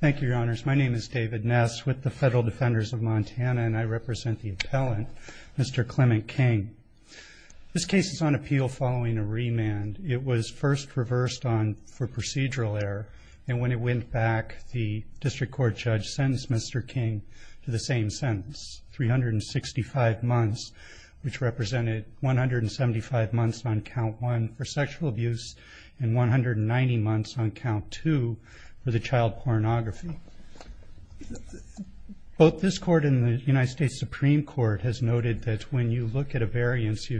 Thank you, Your Honors. My name is David Ness with the Federal Defenders of Montana, and I represent the appellant, Mr. Clement King. This case is on appeal following a remand. It was first reversed for procedural error, and when it went back, the District Court judge sentenced Mr. King to the same sentence, 365 months, which represented 175 months on Count 1 for sexual abuse and 190 months on Count 2 for the child pornography. Both this Court and the United States Supreme Court has noted that when you look at a variance,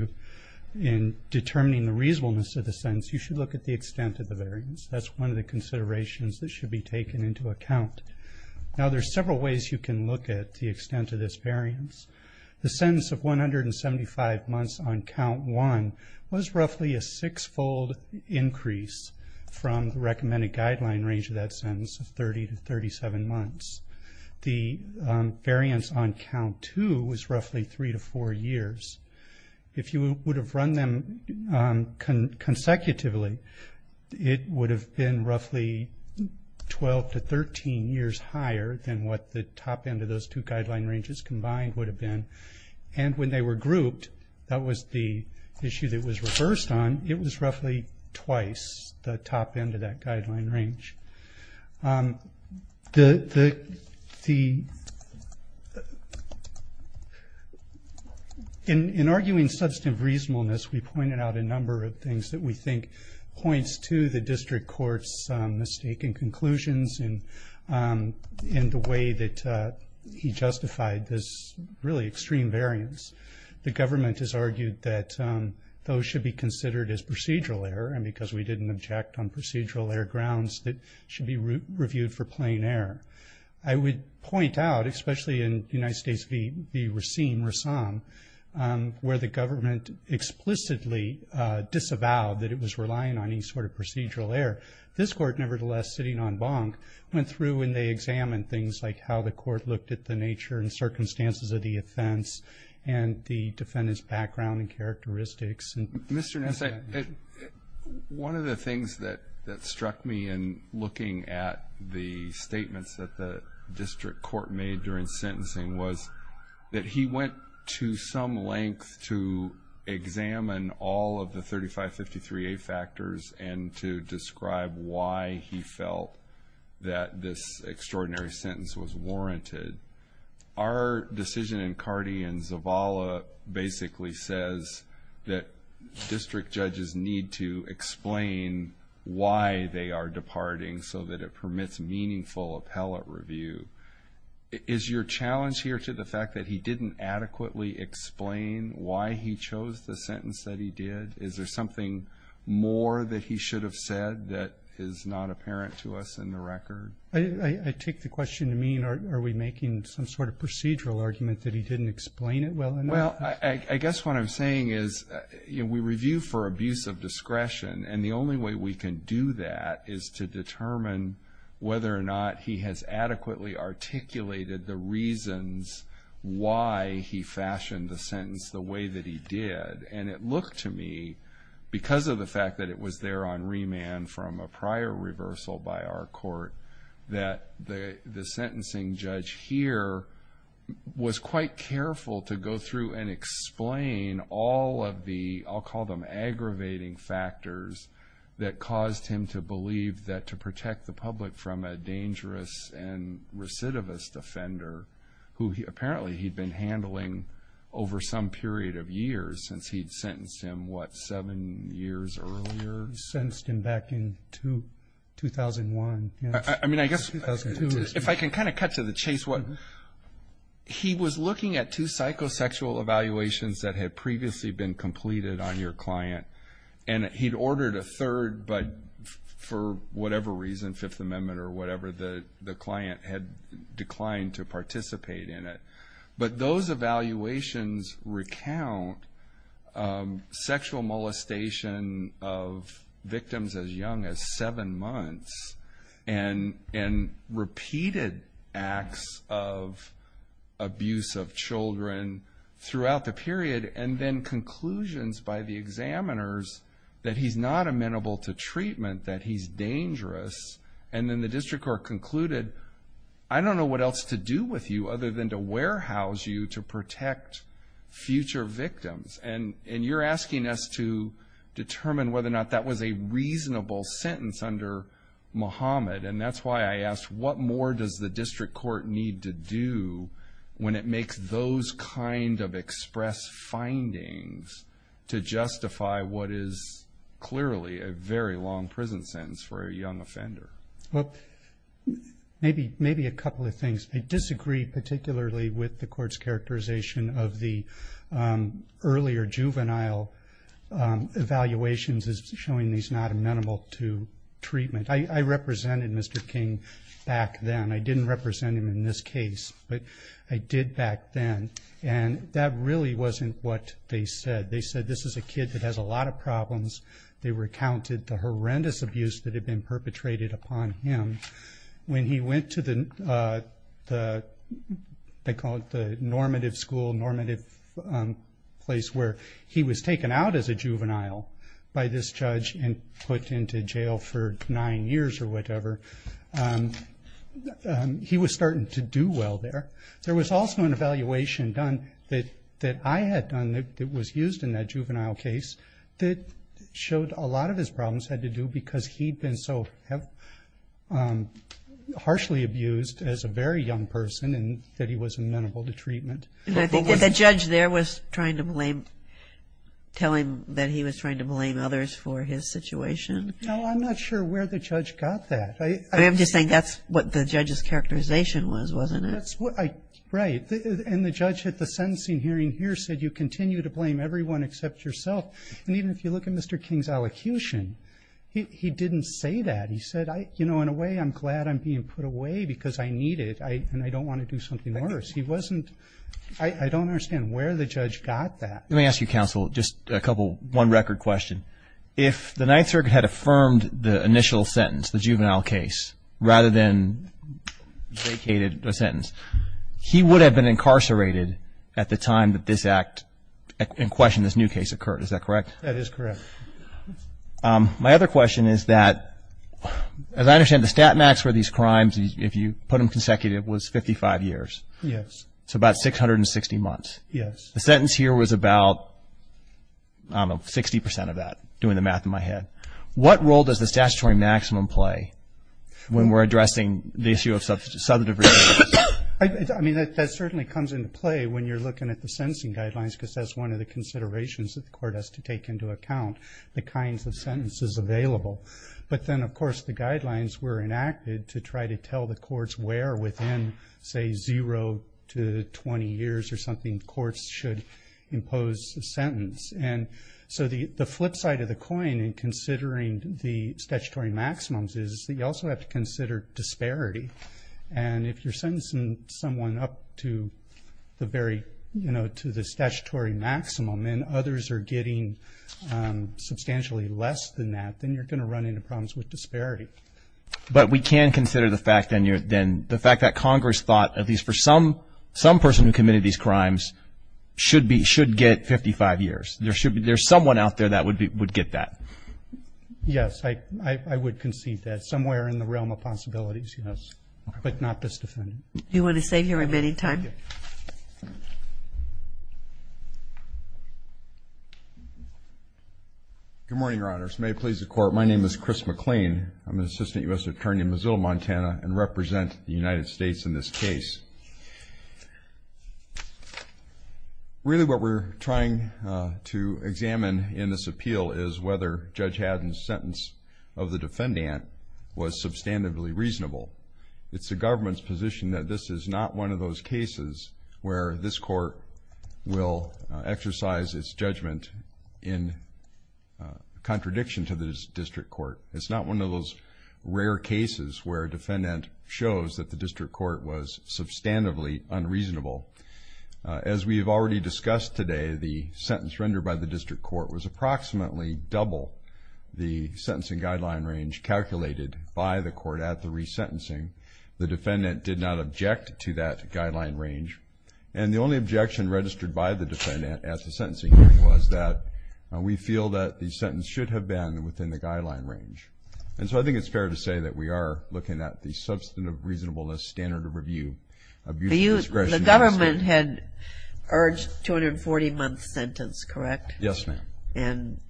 in determining the reasonableness of the sentence, you should look at the extent of the variance. That's one of the considerations that should be taken into account. Now, there's several ways you can look at the extent of this variance. The sentence of 175 months on Count 1 was roughly a six-fold increase from the recommended guideline range of that sentence of 30 to 37 months. The variance on Count 2 was roughly three to four years. If you would have run them consecutively, it would have been roughly 12 to 13 years higher than what the top end of those two guideline ranges combined would have been. And when they were grouped, that was the issue that was reversed on. It was roughly twice the top end of that guideline range. In arguing substantive reasonableness, we pointed out a number of things that we think points to the district court's mistaken conclusions in the way that he justified this really extreme variance. The government has argued that those should be considered as procedural error, and because we didn't object on procedural error grounds, that should be reviewed for plain error. I would point out, especially in the United States v. Racine, where the government explicitly disavowed that it was relying on any sort of procedural error. This court, nevertheless, sitting on bonk, went through and they examined things like how the court looked at the nature and circumstances of the offense and the defendant's background and characteristics. Mr. Ness, one of the things that struck me in looking at the statements that the district court made during sentencing was that he went to some length to examine all of the 3553A factors and to describe why he felt that this extraordinary sentence was warranted. Our decision in Carty and Zavala basically says that district judges need to explain why they are departing so that it permits meaningful appellate review. Is your challenge here to the fact that he didn't adequately explain why he chose the sentence that he did? Is there something more that he should have said that is not apparent to us in the record? I take the question to mean are we making some sort of procedural argument that he didn't explain it well enough? Well, I guess what I'm saying is we review for abuse of discretion, and the only way we can do that is to determine whether or not he has adequately articulated the reasons why he fashioned the sentence the way that he did. And it looked to me, because of the fact that it was there on remand from a prior reversal by our court, that the sentencing judge here was quite careful to go through and explain all of the, I'll call them aggravating factors that caused him to believe that to protect the public from a dangerous and recidivist offender who apparently he'd been handling over some period of years since he'd sentenced him, what, seven years earlier? Sentenced him back in 2001. I mean, I guess if I can kind of cut to the chase, he was looking at two psychosexual evaluations that had previously been completed on your client, and he'd ordered a third, but for whatever reason, Fifth Amendment or whatever, the client had declined to participate in it. But those evaluations recount sexual molestation of victims as young as seven months and repeated acts of abuse of children throughout the period, and then conclusions by the examiners that he's not amenable to treatment, that he's dangerous. And then the district court concluded, I don't know what else to do with you other than to warehouse you to protect future victims. And you're asking us to determine whether or not that was a reasonable sentence under Muhammad, and that's why I ask, what more does the district court need to do when it makes those kind of express findings to justify what is clearly a very long prison sentence for a young offender? Well, maybe a couple of things. I disagree particularly with the court's characterization of the earlier juvenile evaluations as showing he's not amenable to treatment. I represented Mr. King back then. I didn't represent him in this case, but I did back then. And that really wasn't what they said. They said this is a kid that has a lot of problems. They recounted the horrendous abuse that had been perpetrated upon him. When he went to the normative school, normative place where he was taken out as a juvenile by this judge and put into jail for nine years or whatever, he was starting to do well there. There was also an evaluation done that I had done that was used in that juvenile case that showed a lot of his problems had to do because he'd been so harshly abused as a very young person and that he wasn't amenable to treatment. I think that the judge there was trying to blame others for his situation. No, I'm not sure where the judge got that. I'm just saying that's what the judge's characterization was, wasn't it? Right. And the judge at the sentencing hearing here said you continue to blame everyone except yourself. And even if you look at Mr. King's elocution, he didn't say that. He said, you know, in a way I'm glad I'm being put away because I need it and I don't want to do something worse. I don't understand where the judge got that. Let me ask you, counsel, just one record question. If the Ninth Circuit had affirmed the initial sentence, the juvenile case, rather than vacated the sentence, he would have been incarcerated at the time that this act in question, this new case occurred. Is that correct? That is correct. My other question is that, as I understand, the stat max for these crimes, if you put them consecutive, was 55 years. Yes. So about 660 months. Yes. The sentence here was about, I don't know, 60% of that, doing the math in my head. What role does the statutory maximum play when we're addressing the issue of substantive reasons? I mean, that certainly comes into play when you're looking at the sentencing guidelines because that's one of the considerations that the court has to take into account, the kinds of sentences available. But then, of course, the guidelines were enacted to try to tell the courts where within, say, zero to 20 years or something courts should impose a sentence. And so the flip side of the coin in considering the statutory maximums is that you also have to consider disparity. And if you're sentencing someone up to the very, you know, to the statutory maximum and others are getting substantially less than that, then you're going to run into problems with disparity. But we can consider the fact that Congress thought at least for some person who committed these crimes should get 55 years. There's someone out there that would get that. Yes, I would concede that. Somewhere in the realm of possibilities, yes, but not this defendant. Do you want to save your remaining time? Good morning, Your Honors. May it please the Court, my name is Chris McLean. I'm an assistant U.S. attorney in Missoula, Montana, and represent the United States in this case. Really what we're trying to examine in this appeal is whether Judge Haddon's sentence of the defendant was substantively reasonable. It's the government's position that this is not one of those cases where this court will exercise its judgment in contradiction to the district court. It's not one of those rare cases where a defendant shows that the district court was substantively unreasonable. As we have already discussed today, the sentence rendered by the district court was approximately double the sentencing guideline range calculated by the court at the resentencing. The defendant did not object to that guideline range. And the only objection registered by the defendant at the sentencing was that we feel that the sentence should have been within the guideline range. And so I think it's fair to say that we are looking at the substantive reasonableness standard of review. The government had urged 240-month sentence, correct? Yes, ma'am. And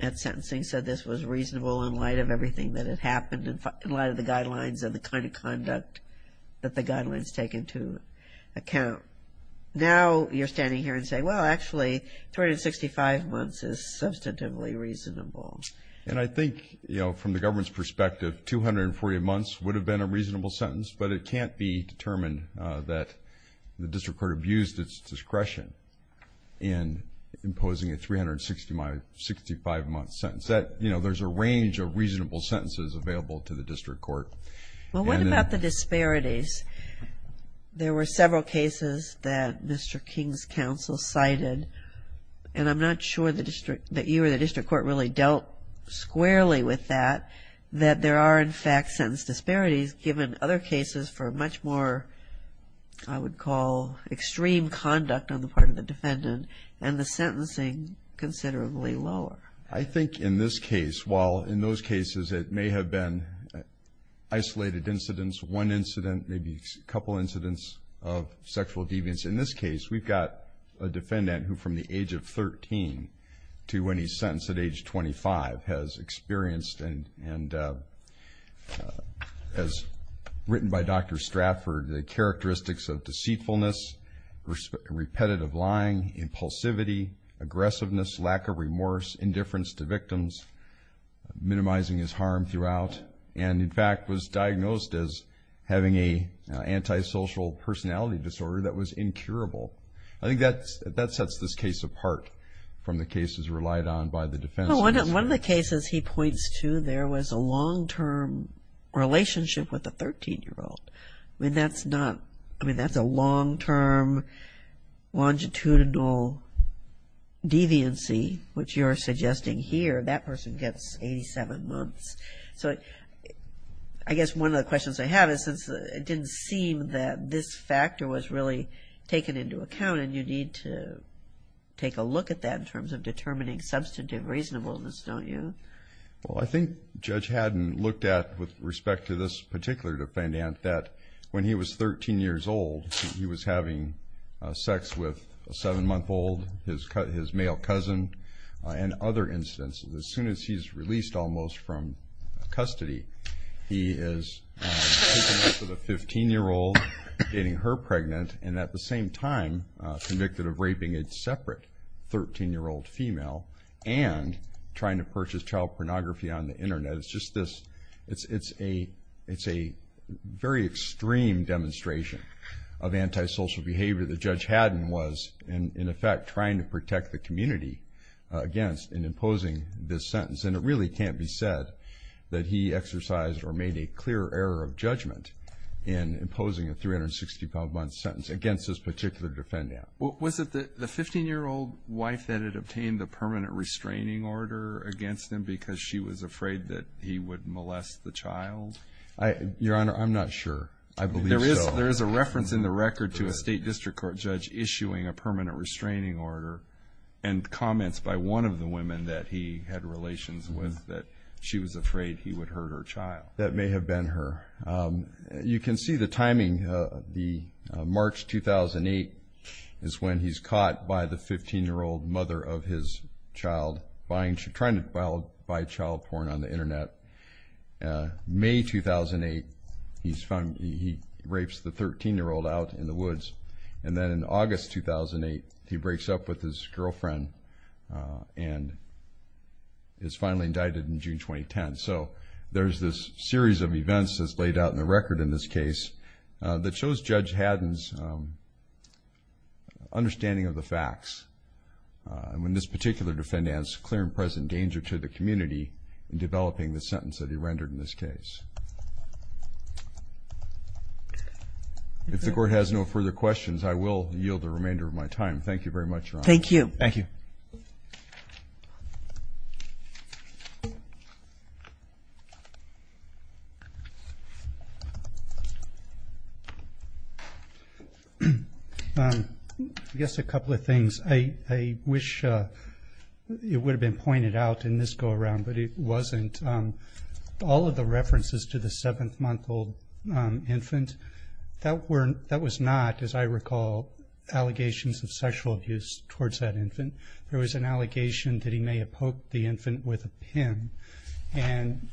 at sentencing said this was reasonable in light of everything that had happened in light of the guidelines and the kind of conduct that the guidelines take into account. Now you're standing here and saying, well, actually, 365 months is substantively reasonable. And I think, you know, from the government's perspective, 240 months would have been a reasonable sentence, but it can't be determined that the district court abused its discretion in imposing a 365-month sentence. You know, there's a range of reasonable sentences available to the district court. Well, what about the disparities? There were several cases that Mr. King's counsel cited, and I'm not sure that you or the district court really dealt squarely with that, that there are, in fact, sentence disparities given other cases for much more, I would call, extreme conduct on the part of the defendant and the sentencing considerably lower. I think in this case, while in those cases it may have been isolated incidents, one incident, maybe a couple incidents of sexual deviance, in this case we've got a defendant who from the age of 13 to when he's sentenced at age 25 has experienced, as written by Dr. Stratford, the characteristics of deceitfulness, repetitive lying, impulsivity, aggressiveness, lack of remorse, indifference to victims, minimizing his harm throughout, and in fact was diagnosed as having an antisocial personality disorder that was incurable. I think that sets this case apart from the cases relied on by the defense. One of the cases he points to there was a long-term relationship with a 13-year-old. I mean, that's a long-term longitudinal deviancy, which you're suggesting here, that person gets 87 months. So I guess one of the questions I have is since it didn't seem that this factor was really taken into account and you need to take a look at that in terms of determining substantive reasonableness, don't you? Well, I think Judge Haddon looked at, with respect to this particular defendant, that when he was 13 years old he was having sex with a 7-month-old, his male cousin, and other instances. As soon as he's released almost from custody, he is taking this to the 15-year-old, dating her pregnant, and at the same time convicted of raping a separate 13-year-old female and trying to purchase child pornography on the Internet. It's a very extreme demonstration of antisocial behavior that Judge Haddon was, in effect, trying to protect the community against and imposing this sentence. And it really can't be said that he exercised or made a clear error of judgment in imposing a 365-month sentence against this particular defendant. Was it the 15-year-old wife that had obtained the permanent restraining order against him because she was afraid that he would molest the child? Your Honor, I'm not sure. I believe so. There is a reference in the record to a State District Court judge issuing a permanent restraining order and comments by one of the women that he had relations with that she was afraid he would hurt her child. That may have been her. You can see the timing. March 2008 is when he's caught by the 15-year-old mother of his child, trying to buy child porn on the Internet. May 2008, he rapes the 13-year-old out in the woods. And then in August 2008, he breaks up with his girlfriend and is finally indicted in June 2010. So there's this series of events that's laid out in the record in this case that shows Judge Haddon's understanding of the facts. And when this particular defendant adds clear and present danger to the community in developing the sentence that he rendered in this case. If the Court has no further questions, I will yield the remainder of my time. Thank you very much, Your Honor. Thank you. Thank you. Thank you. I guess a couple of things. I wish it would have been pointed out in this go-around, but it wasn't. All of the references to the 7-month-old infant, that was not, as I recall, allegations of sexual abuse towards that infant. There was an allegation that he may have poked the infant with a pin. And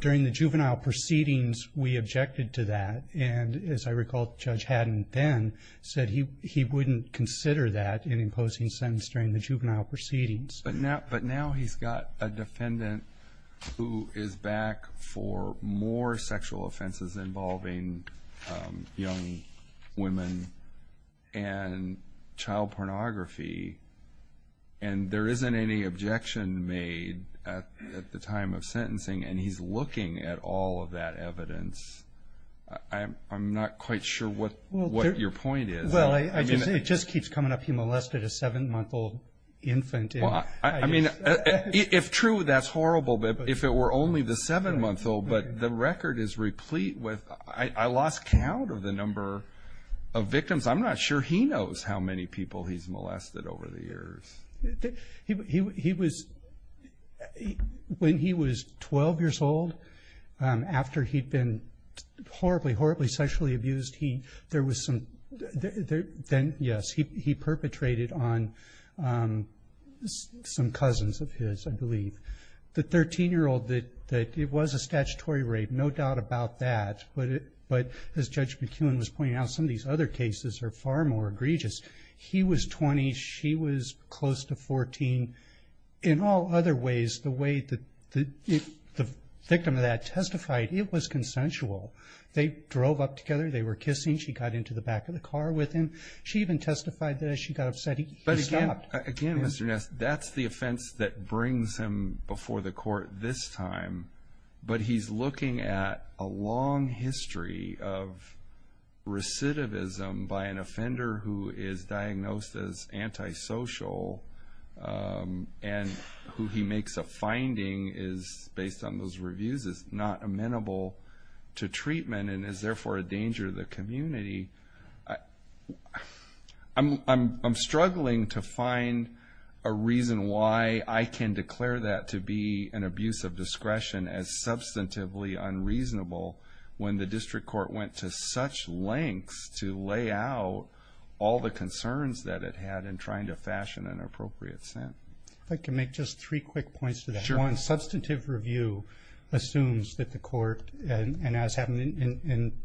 during the juvenile proceedings, we objected to that. And as I recall, Judge Haddon then said he wouldn't consider that in imposing sentence during the juvenile proceedings. But now he's got a defendant who is back for more sexual offenses involving young women and child pornography, and there isn't any objection made at the time of sentencing. And he's looking at all of that evidence. I'm not quite sure what your point is. Well, it just keeps coming up he molested a 7-month-old infant. I mean, if true, that's horrible. If it were only the 7-month-old, but the record is replete with – I lost count of the number of victims. I'm not sure he knows how many people he's molested over the years. When he was 12 years old, after he'd been horribly, horribly sexually abused, there was some – yes, he perpetrated on some cousins of his, I believe. The 13-year-old, it was a statutory rape, no doubt about that. But as Judge McKeown was pointing out, some of these other cases are far more egregious. He was 20. She was close to 14. In all other ways, the way that the victim of that testified, it was consensual. They drove up together. They were kissing. She got into the back of the car with him. She even testified that as she got upset, he stopped. Again, Mr. Ness, that's the offense that brings him before the court this time. But he's looking at a long history of recidivism by an offender who is diagnosed as antisocial and who he makes a finding is, based on those reviews, is not amenable to treatment and is therefore a danger to the community. I'm struggling to find a reason why I can declare that to be an abuse of discretion as substantively unreasonable when the district court went to such lengths to lay out all the concerns that it had in trying to fashion an appropriate sentence. If I could make just three quick points to that. One, substantive review assumes that the court, and as happened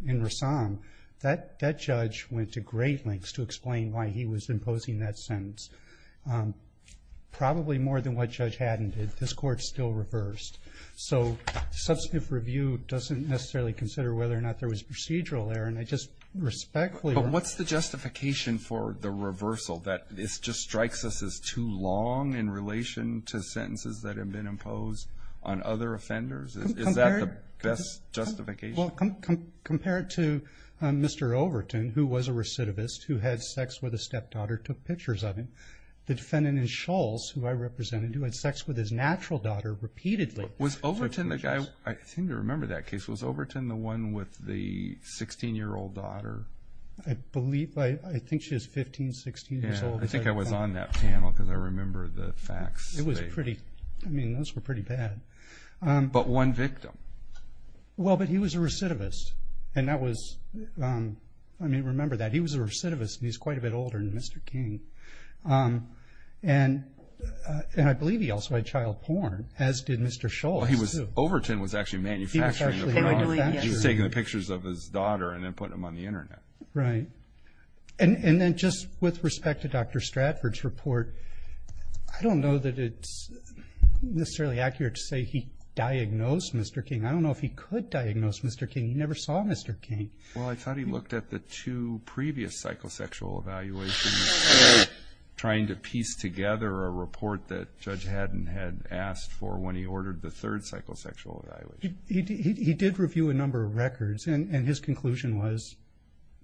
in Rassam, that judge went to great lengths to explain why he was imposing that sentence. Probably more than what Judge Haddon did, this Court still reversed. So substantive review doesn't necessarily consider whether or not there was procedural error, and I just respectfully want to say that. But what's the justification for the reversal, that this just strikes us as too long in relation to sentences that have been imposed on other offenders? Is that the best justification? Well, compared to Mr. Overton, who was a recidivist, who had sex with a stepdaughter, took pictures of him, the defendant in Shulls, who I represented, who had sex with his natural daughter repeatedly took pictures. Was Overton the guy? I seem to remember that case. Was Overton the one with the 16-year-old daughter? I believe, I think she was 15, 16 years old. I think I was on that panel because I remember the facts. It was pretty, I mean, those were pretty bad. But one victim. Well, but he was a recidivist, and that was, I mean, remember that. He was a recidivist, and he's quite a bit older than Mr. King. And I believe he also had child porn, as did Mr. Shulls. Overton was actually manufacturing the pornography. He was taking pictures of his daughter and then putting them on the Internet. Right. And then just with respect to Dr. Stratford's report, I don't know that it's necessarily accurate to say he diagnosed Mr. King. I don't know if he could diagnose Mr. King. He never saw Mr. King. Well, I thought he looked at the two previous psychosexual evaluations trying to piece together a report that Judge Haddon had asked for when he ordered the third psychosexual evaluation. He did review a number of records, and his conclusion was,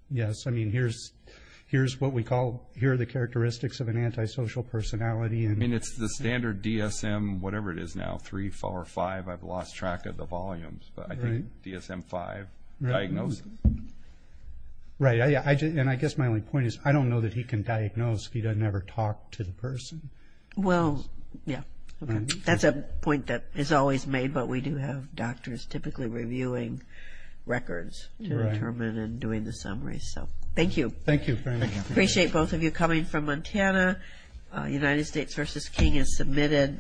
yes, I mean, here's what we call, here are the characteristics of an antisocial personality. I mean, it's the standard DSM, whatever it is now, 3, 4, 5, I've lost track of the volumes. But I think DSM-5 diagnosed him. Right. And I guess my only point is I don't know that he can diagnose if he doesn't ever talk to the person. Well, yeah. That's a point that is always made, but we do have doctors typically reviewing records to determine and doing the summaries. So thank you. Thank you very much. Appreciate both of you coming from Montana. United States v. King is submitted.